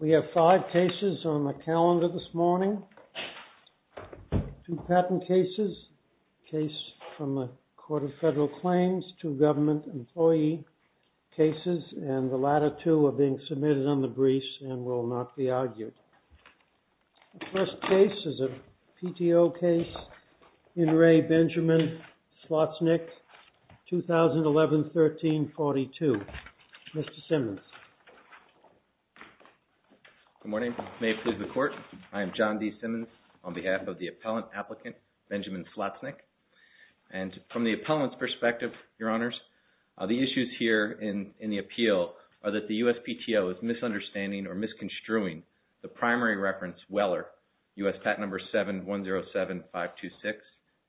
We have five cases on the calendar this morning, two patent cases, a case from the Court of Federal Claims, two government employee cases, and the latter two are being submitted on the briefs and will not be argued. The first case is a PTO case, In Re. Benjamin Slotznick, 2011-13-42. Mr. Simmons. JOHN D. SIMMONS Good morning. May it please the Court, I am John D. Simmons on behalf of the Appellant Applicant, Benjamin Slotznick. And from the Appellant's perspective, Your Honors, the issues here in the appeal are that the USPTO is misunderstanding or misconstruing the primary reference Weller, US Patent Number 7107526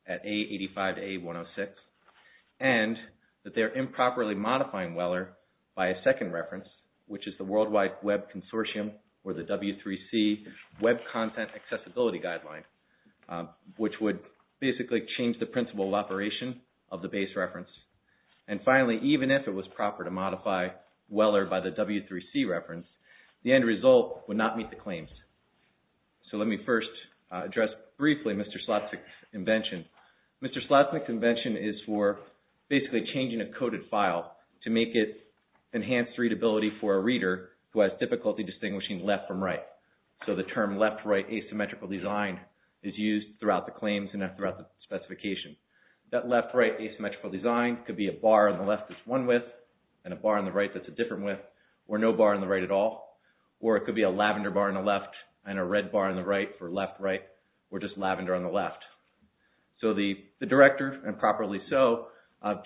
at A85A106, and that they are improperly modifying Weller by a second reference, which is the World Wide Web Consortium or the W3C Web Content Accessibility Guideline, which would basically change the principle of operation of the base reference. And finally, even if it was modified, the end result would not meet the claims. So let me first address briefly Mr. Slotznick's invention. Mr. Slotznick's invention is for basically changing a coded file to make it enhanced readability for a reader who has difficulty distinguishing left from right. So the term left-right asymmetrical design is used throughout the claims and throughout the specifications. That left-right asymmetrical design could be a bar on the left that's one width and a bar on the right that's a different width from the right at all, or it could be a lavender bar on the left and a red bar on the right for left-right or just lavender on the left. So the director, improperly so,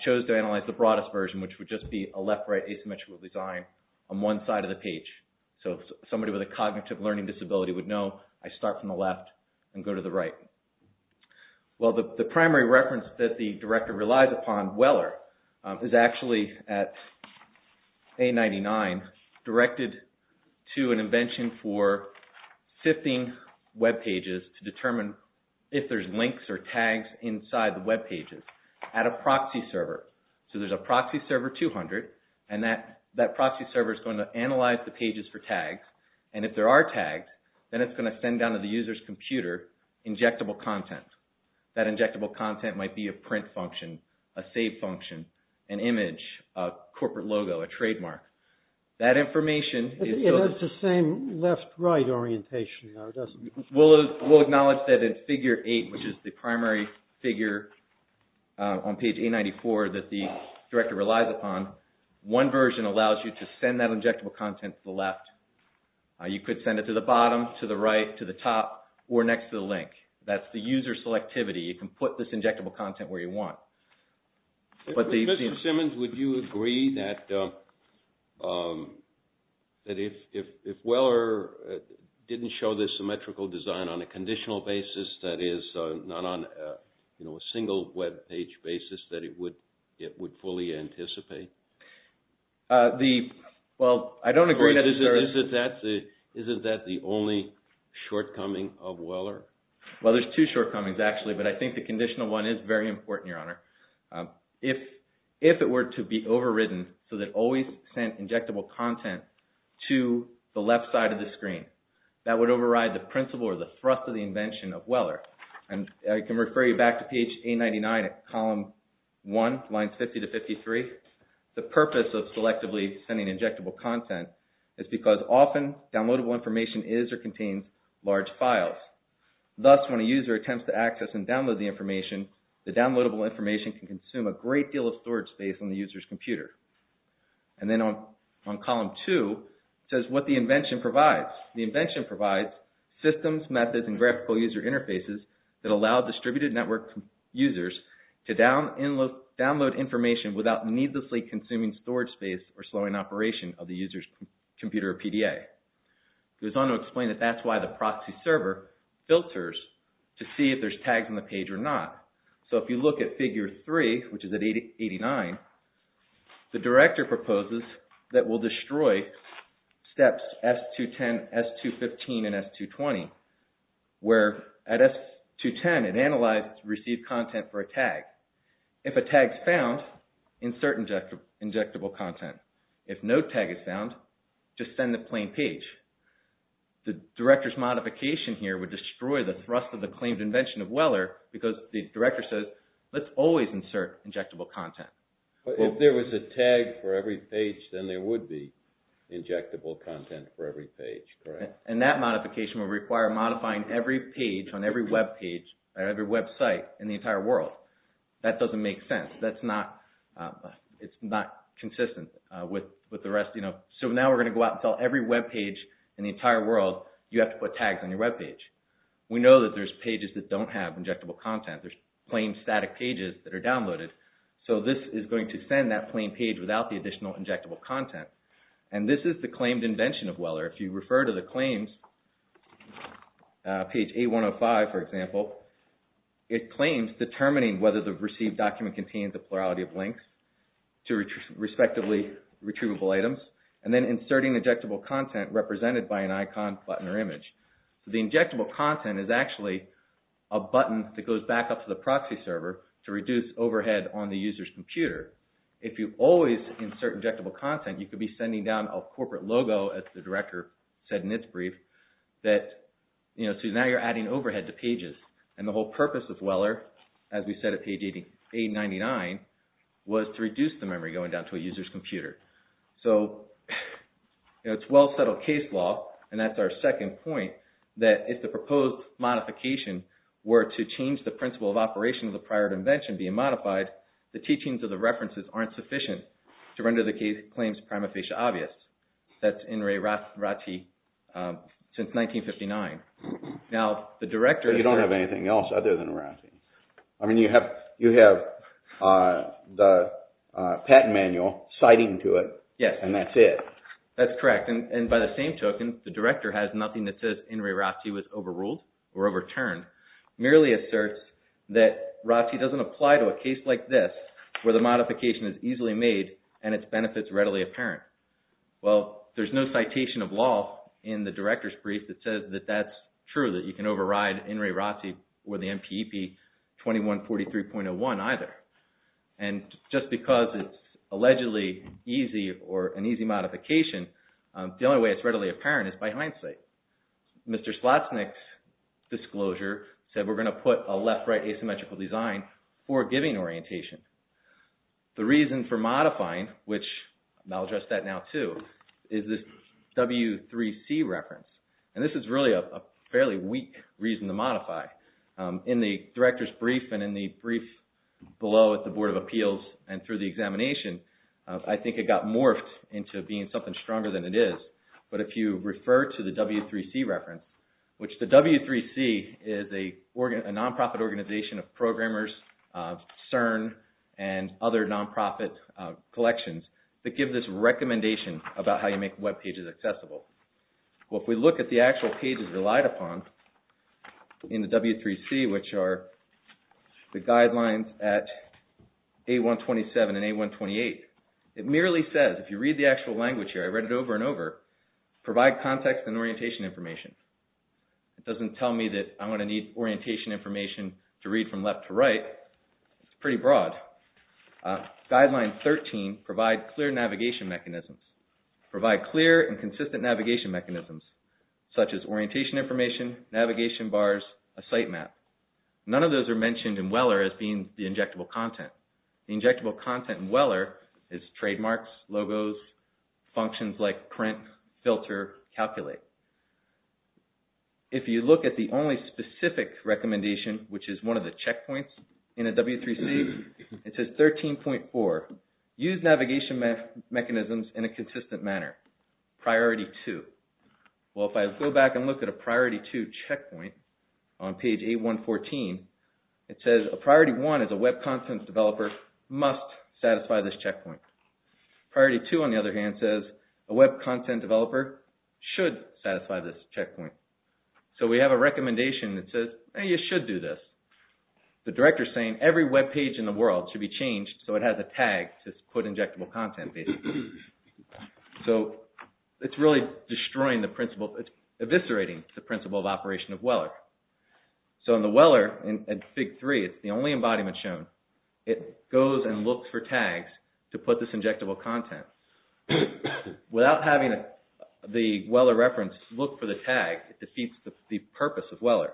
chose to analyze the broadest version, which would just be a left-right asymmetrical design on one side of the page. So somebody with a cognitive learning disability would know I start from the left and go to the right. So this is related to an invention for sifting webpages to determine if there's links or tags inside the webpages at a proxy server. So there's a proxy server 200 and that proxy server is going to analyze the pages for tags. And if there are tags, then it's going to send down to the user's computer injectable content. That injectable content might be a print function, a save function, an information. It has the same left-right orientation now, doesn't it? We'll acknowledge that in figure 8, which is the primary figure on page 894 that the director relies upon, one version allows you to send that injectable content to the left. You could send it to the bottom, to the right, to the top, or next to the link. That's the user selectivity. You can put this injectable content where you want. Mr. Simmons, would you agree that if Weller didn't show this symmetrical design on a conditional basis, that is, not on a single webpage basis, that it would fully anticipate? Well, I don't agree. Isn't that the only shortcoming of Weller? Well, there's two shortcomings actually, but I think the conditional one is very important, Your Honor. If it were to be overridden so that always sent injectable content to the left side of the screen, that would override the principle or the thrust of the invention of Weller. And I can refer you back to page 899, column 1, lines 50 to 53. The purpose of selectively sending injectable content is because often downloadable information is or contains large files. Thus, when a user attempts to access and download the information, the downloadable information can consume a great deal of storage space on the user's computer. And then on column 2, it says what the invention provides. The invention provides systems, methods, and graphical user interfaces that allow distributed network users to download information without needlessly consuming storage space or slowing operation of the user's computer or PDA. It goes on to explain that that's why the proxy server filters to see if there's tags on the page or not. So, if you look at figure 3, which is at 89, the director proposes that we'll destroy steps S210, S215, and S220, where at S210, it analyzes received content for a tag. If a tag is found, insert injectable content. If no tag is found, just send a plain page. The director's modification here would destroy the thrust of the claimed invention of Weller because the director says, let's always insert injectable content. If there was a tag for every page, then there would be injectable content for every page, correct? And that modification would require modifying every page on every web page or every website in the entire world. That doesn't make sense. It's not consistent with the rest. So, now we're going to go out and tell every web page in the entire world, you have to put tags on your web page. We know that there's pages that don't have injectable content. There's plain static pages that are downloaded. So, this is going to send that plain page without the additional injectable content. And this is the claimed invention of Weller. If you refer to the claims, page A105, for example, it claims determining whether the received document contains a plurality of links to respectively retrievable items and then inserting injectable content represented by an icon, button, or a button that goes back up to the proxy server to reduce overhead on the user's computer. If you always insert injectable content, you could be sending down a corporate logo, as the director said in its brief, that, you know, so now you're adding overhead to pages. And the whole purpose of Weller, as we said at page 899, was to reduce the memory going down to a user's computer. So, you know, it's well settled case law and that's our second point that if the claims were to change the principle of operation of the prior invention being modified, the teachings of the references aren't sufficient to render the claims prima facie obvious. That's In re Ratti since 1959. Now, the director... You don't have anything else other than Ratti. I mean, you have the patent manual citing to it and that's it. That's correct. And by the same token, the director has nothing that says In re Ratti was overruled or overturned, merely asserts that Ratti doesn't apply to a case like this where the modification is easily made and its benefits readily apparent. Well, there's no citation of law in the director's brief that says that that's true, that you can override In re Ratti or the MPEP 2143.01 either. And just because it's allegedly easy or an easy modification, the only way it's readily apparent is by hindsight. Mr. Slotsnick's disclosure said we're going to put a left-right asymmetrical design for giving orientation. The reason for modifying, which I'll address that now too, is this W3C reference. And this is really a fairly weak reason to modify. In the director's brief and in the brief below at the Board of Appeals and through the examination, I think it got morphed into being something stronger than it is. But if you refer to the W3C reference, which the W3C is a nonprofit organization of Well, if we look at the actual pages relied upon in the W3C, which are the guidelines at A127 and A128, it merely says, if you read the actual language here, I read it over and over, provide context and orientation information. It doesn't tell me that I'm going to need orientation information to read from left to right. It's pretty broad. Guideline 13, provide clear navigation mechanisms. Provide clear and consistent navigation mechanisms, such as orientation information, navigation bars, a site map. None of those are mentioned in Weller as being the injectable content. The injectable content in Weller is trademarks, logos, functions like print, filter, calculate. If you look at the only specific recommendation, which is one of the checkpoints in a W3C, it says 13.4. Use navigation mechanisms in a consistent manner. Priority 2. Well, if I go back and look at a Priority 2 checkpoint on page A114, it says a Priority 1 is a web content developer must satisfy this checkpoint. Priority 2, on the other hand, says a web content developer should satisfy this checkpoint. Well, you should do this. The director is saying every web page in the world should be changed so it has a tag to put injectable content in. So, it's really destroying the principle, eviscerating the principle of operation of Weller. So, in the Weller, in Fig. 3, it's the only embodiment shown. It goes and looks for tags to put this injectable content. Without having the Weller reference look for the tag, it defeats the purpose of Weller.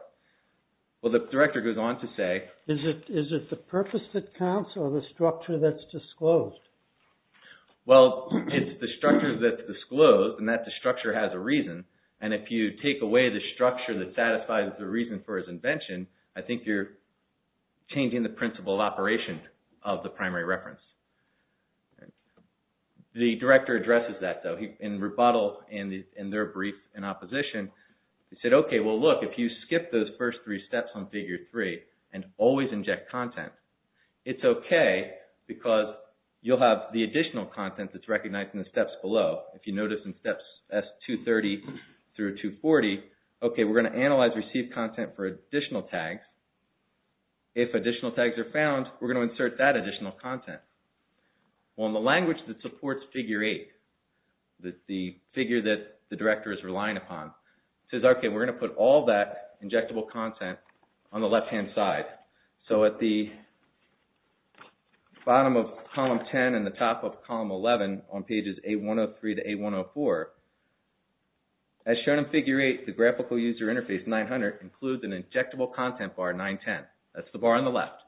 Well, the director goes on to say... Is it the purpose that counts or the structure that's disclosed? Well, it's the structure that's disclosed and that structure has a reason. And if you take away the structure that satisfies the reason for his invention, I think you're changing the principle of operation of the primary reference. The director addresses that though. In rebuttal in their brief in opposition, he said, okay, well look, if you skip those first three steps on Fig. 3 and always inject content, it's okay because you'll have the additional content that's recognized in the steps below. If you notice in steps S230 through 240, okay, we're going to analyze received content for additional tags. If additional tags are found, we're going to insert that additional content. Well, in the language that supports Fig. 8, the figure that the director is referring to is on the left-hand side. So at the bottom of column 10 and the top of column 11 on pages 8103 to 8104, as shown in Fig. 8, the graphical user interface 900 includes an injectable content bar 910. That's the bar on the left.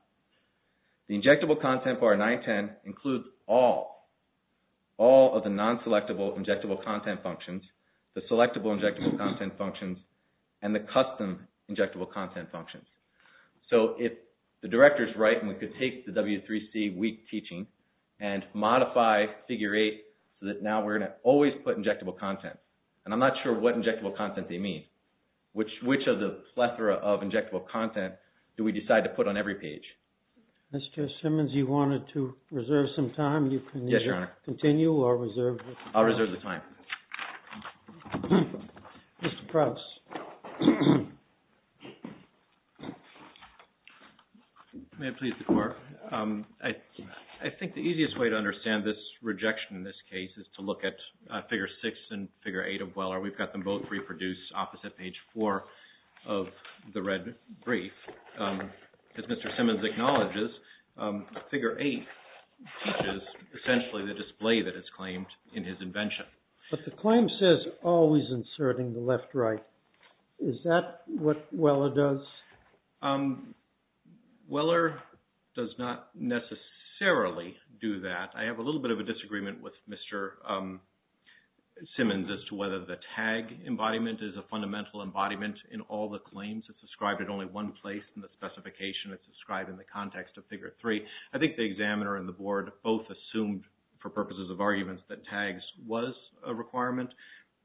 The injectable content bar 910 includes all of the non-selectable injectable content functions, the selectable injectable content functions, and the custom injectable content functions. So if the director is right and we could take the W3C weak teaching and modify Fig. 8 so that now we're going to always put injectable content, and I'm not sure what injectable content they mean. Which of the plethora of injectable content do we decide to put on every page? Mr. Simmons, you wanted to reserve some time. You can either continue or reserve. I'll reserve the time. Mr. Krauts. May it please the Court? I think the easiest way to understand this rejection in this case is to look at Fig. 6 and Fig. 8 of Weller. We've got them both reproduced opposite page 4 of the red brief. As Mr. Simmons acknowledges, Fig. 8 teaches essentially the display that is claimed in his invention. But the claim says always inserting the left right. Is that what Weller does? Weller does not necessarily do that. I have a little bit of a disagreement with Mr. Simmons as to whether the tag embodiment is a fundamental embodiment in all the claims. It's described at only one place in the specification. It's described in the context of Fig. 3. I think the examiner and the board both assumed for purposes of arguments that tags was a requirement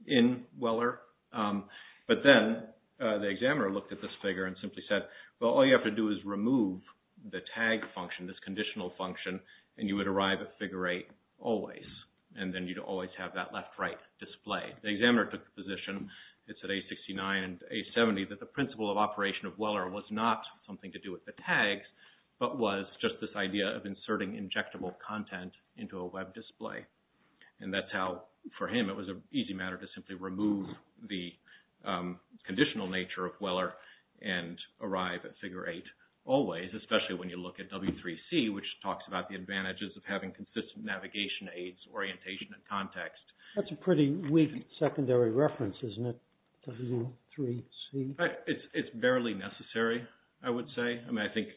in Weller. But then the examiner looked at this figure and simply said, well, all you have to do is remove the tag function, this conditional function, and you would arrive at Fig. 8 always. And then you'd always have that left right display. The examiner took the position, it's at A69 and A70, that the principle of operation of Weller was not something to do with the tags, but was just this idea of inserting injectable content into a web display. And that's how, for him, it was an easy matter to simply remove the conditional nature of Weller and arrive at Fig. 8 always, especially when you look at W3C, which talks about the advantages of having consistent navigation aids, orientation, and context. That's a pretty weak secondary reference, isn't it, W3C? In fact, it's barely necessary, I would say. I mean, I think,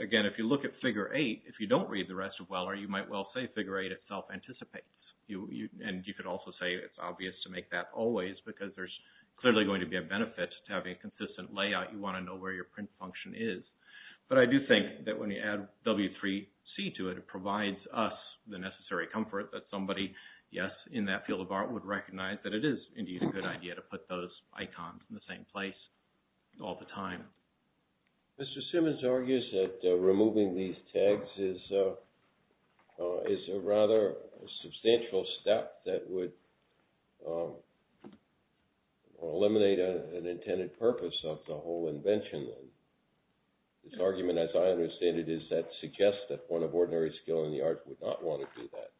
again, if you look at Fig. 8, if you don't read the rest of Weller, you might well say Fig. 8 itself anticipates. And you could also say it's obvious to make that always because there's clearly going to be a benefit to having a consistent layout. You want to know where your print function is. But I do think that when you add W3C to it, it provides us the necessary comfort that somebody, yes, in that field of art would recognize that it is indeed a good idea to put those icons in the same place all the time. Mr. Simmons argues that removing these tags is a rather substantial step that would eliminate an intended purpose of the whole invention. His argument, as I understand it, is that suggests that one of ordinary skill in the art would not want to do that.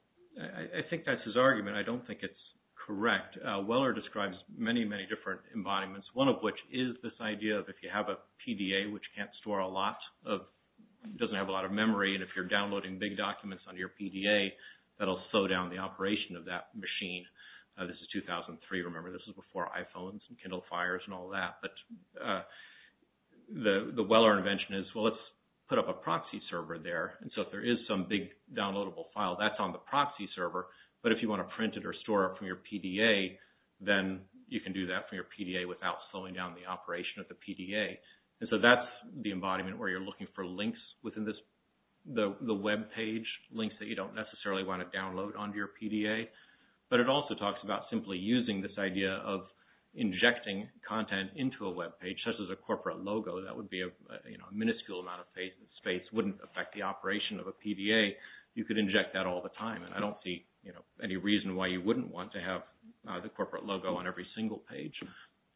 I think that's his argument. I don't think it's correct. Weller describes many, many different embodiments, one of which is this idea of if you have a PDA, which can't store a lot of, doesn't have a lot of memory, and if you're downloading big documents on your PDA, that'll slow down the operation of that machine. This is 2003. Remember, this is before iPhones and Kindle Fires and all that. But the Weller invention is, well, let's put up a proxy server there. And so if there is some big downloadable file, that's on the proxy server. But if you want to print it or store it from your PDA, then you can do that from your PDA without slowing down the operation of the PDA. And so that's the embodiment where you're looking for links within the webpage, links that you don't necessarily want to download onto your PDA. But it also talks about simply using this idea of injecting content into a webpage, such as a corporate logo, that would be a minuscule amount of space, wouldn't affect the operation of a PDA. You could inject that all the time. And I don't see any reason why you wouldn't want to have the corporate logo on every single page.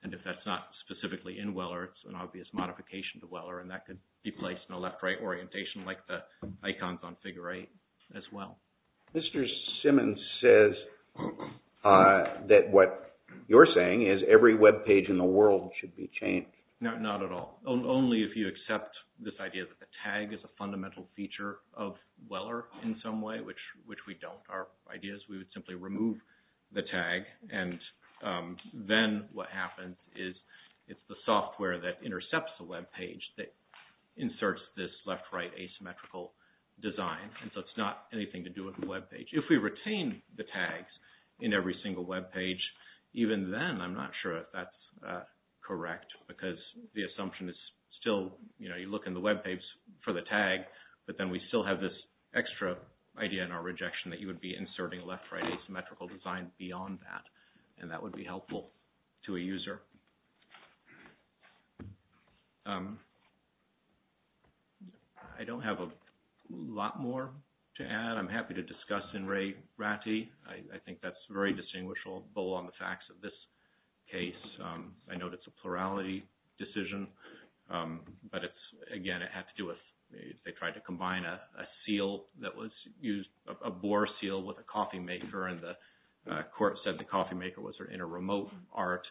And if that's not specifically in Weller, it's an obvious modification to Weller, and that could be placed in a left-right orientation like the icons on figure eight as well. Mr. Simmons says that what you're saying is every webpage in the world should be changed. Not at all. Only if you accept this idea that the tag is a fundamental feature of Weller in some way, which we don't. Our idea is we would simply remove the tag. And then what happens is it's the software that intercepts the webpage that inserts this left-right asymmetrical design. And so it's not anything to do with the webpage. If we retain the tags in every single webpage, even then I'm not sure if that's correct, because the assumption is still, you know, you look in the webpage for the tag, but then we still have this extra idea in our rejection that you would be inserting left-right asymmetrical design beyond that. And that would be helpful to a user. I don't have a lot more to add. I'm happy to discuss in Ray Ratti. I think that's a very distinguishable bowl on the facts of this case. I know it's a plurality decision, but it's, again, it had to do with they tried to combine a seal that was used, a bore seal with a coffee maker, and the court said the coffee maker was in a remote art.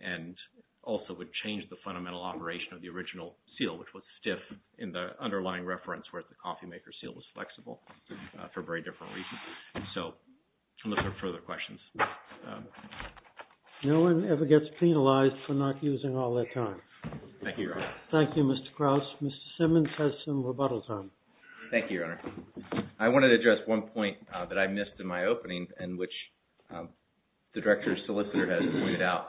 And also would change the fundamental operation of the original seal, which was stiff in the underlying reference where the coffee maker seal was flexible for very different reasons. So I'm looking for further questions. No one ever gets penalized for not using all their time. Thank you, Your Honor. Thank you, Mr. Krauss. Mr. Simmons has some rebuttals on it. Thank you, Your Honor. I wanted to address one point that I missed in my opening and which the director's solicitor has pointed out.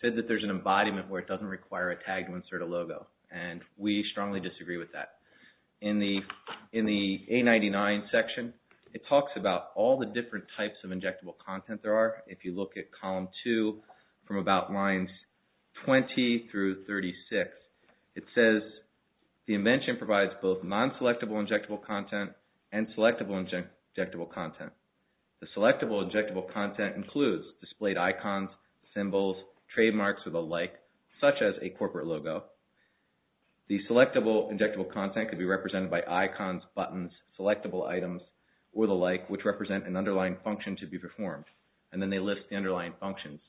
He said that there's an embodiment where it doesn't require a tag to insert a logo. And we strongly disagree with that. In the 899 section, it talks about all the different types of injectable content there are. If you look at column 2 from about lines 20 through 36, it says the invention provides both non-selectable injectable content and selectable injectable content. The selectable injectable content includes displayed icons, symbols, trademarks, or the like, such as a corporate logo. The selectable injectable content could be represented by icons, buttons, selectable items, or the like, which represent an underlying function to be performed. And then they list the underlying functions.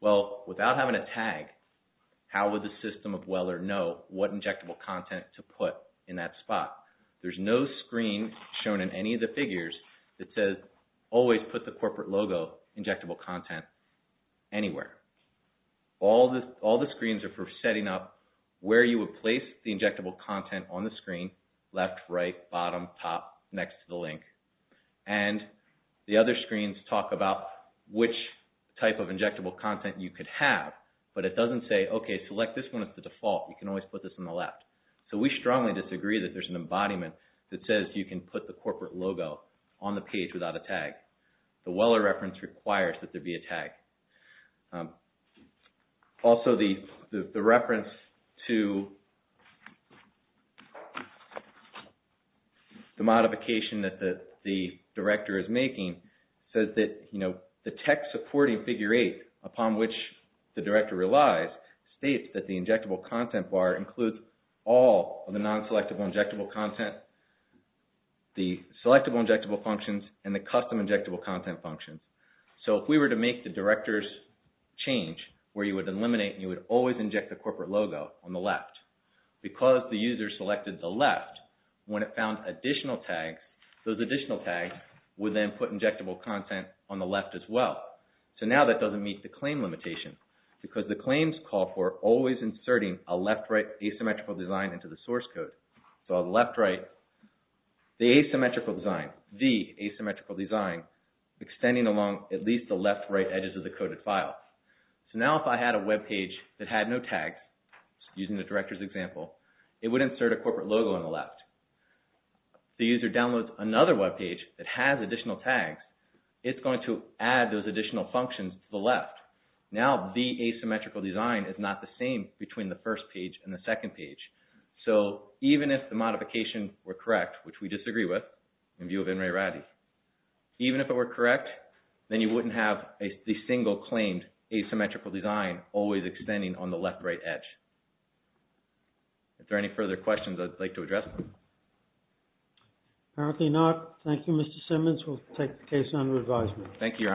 Well, without having a tag, how would the system of Weller know what injectable content to put in that spot? There's no screen shown in any of the figures that says always put the corporate logo injectable content anywhere. All the screens are for setting up where you would place the injectable content on the screen, left, right, bottom, top, next to the link. And the other screens talk about which type of injectable content you could have, but it doesn't say, okay, select this one as the default. You can always put this on the left. So we strongly disagree that there's an embodiment that says you can put the corporate logo on the page without a tag. The Weller reference requires that there be a tag. Also, the reference to the modification that the director is making says that the text supporting figure eight, upon which the director relies, states that the injectable content bar includes all of the non-selectable injectable content, the selectable injectable functions, and the custom injectable content functions. So if we were to make the director's change where you would eliminate and you would always inject the corporate logo on the left, because the user selected the left, when it found additional tags, those additional tags would then put injectable content on the left as well. So now that doesn't meet the claim limitation, because the claims call for always inserting a left, right asymmetrical design into the source code. So I'll left, right the asymmetrical design, the asymmetrical design, extending along at least the left, right edges of the coded file. So now if I had a webpage that had no tags, using the director's example, it would insert a corporate logo on the left. If the user downloads another webpage that has additional tags, it's going to add those additional functions to the left. Now the asymmetrical design is not the same between the first page and the second page. So even if the modification were correct, which we disagree with, in view of N. Ray Ratty, even if it were correct, then you wouldn't have a single claimed asymmetrical design always extending on the left, right edge. Are there any further questions I'd like to address? Apparently not. Thank you, Mr. Simmons. We'll take the case under advisement. Thank you, Your Honors.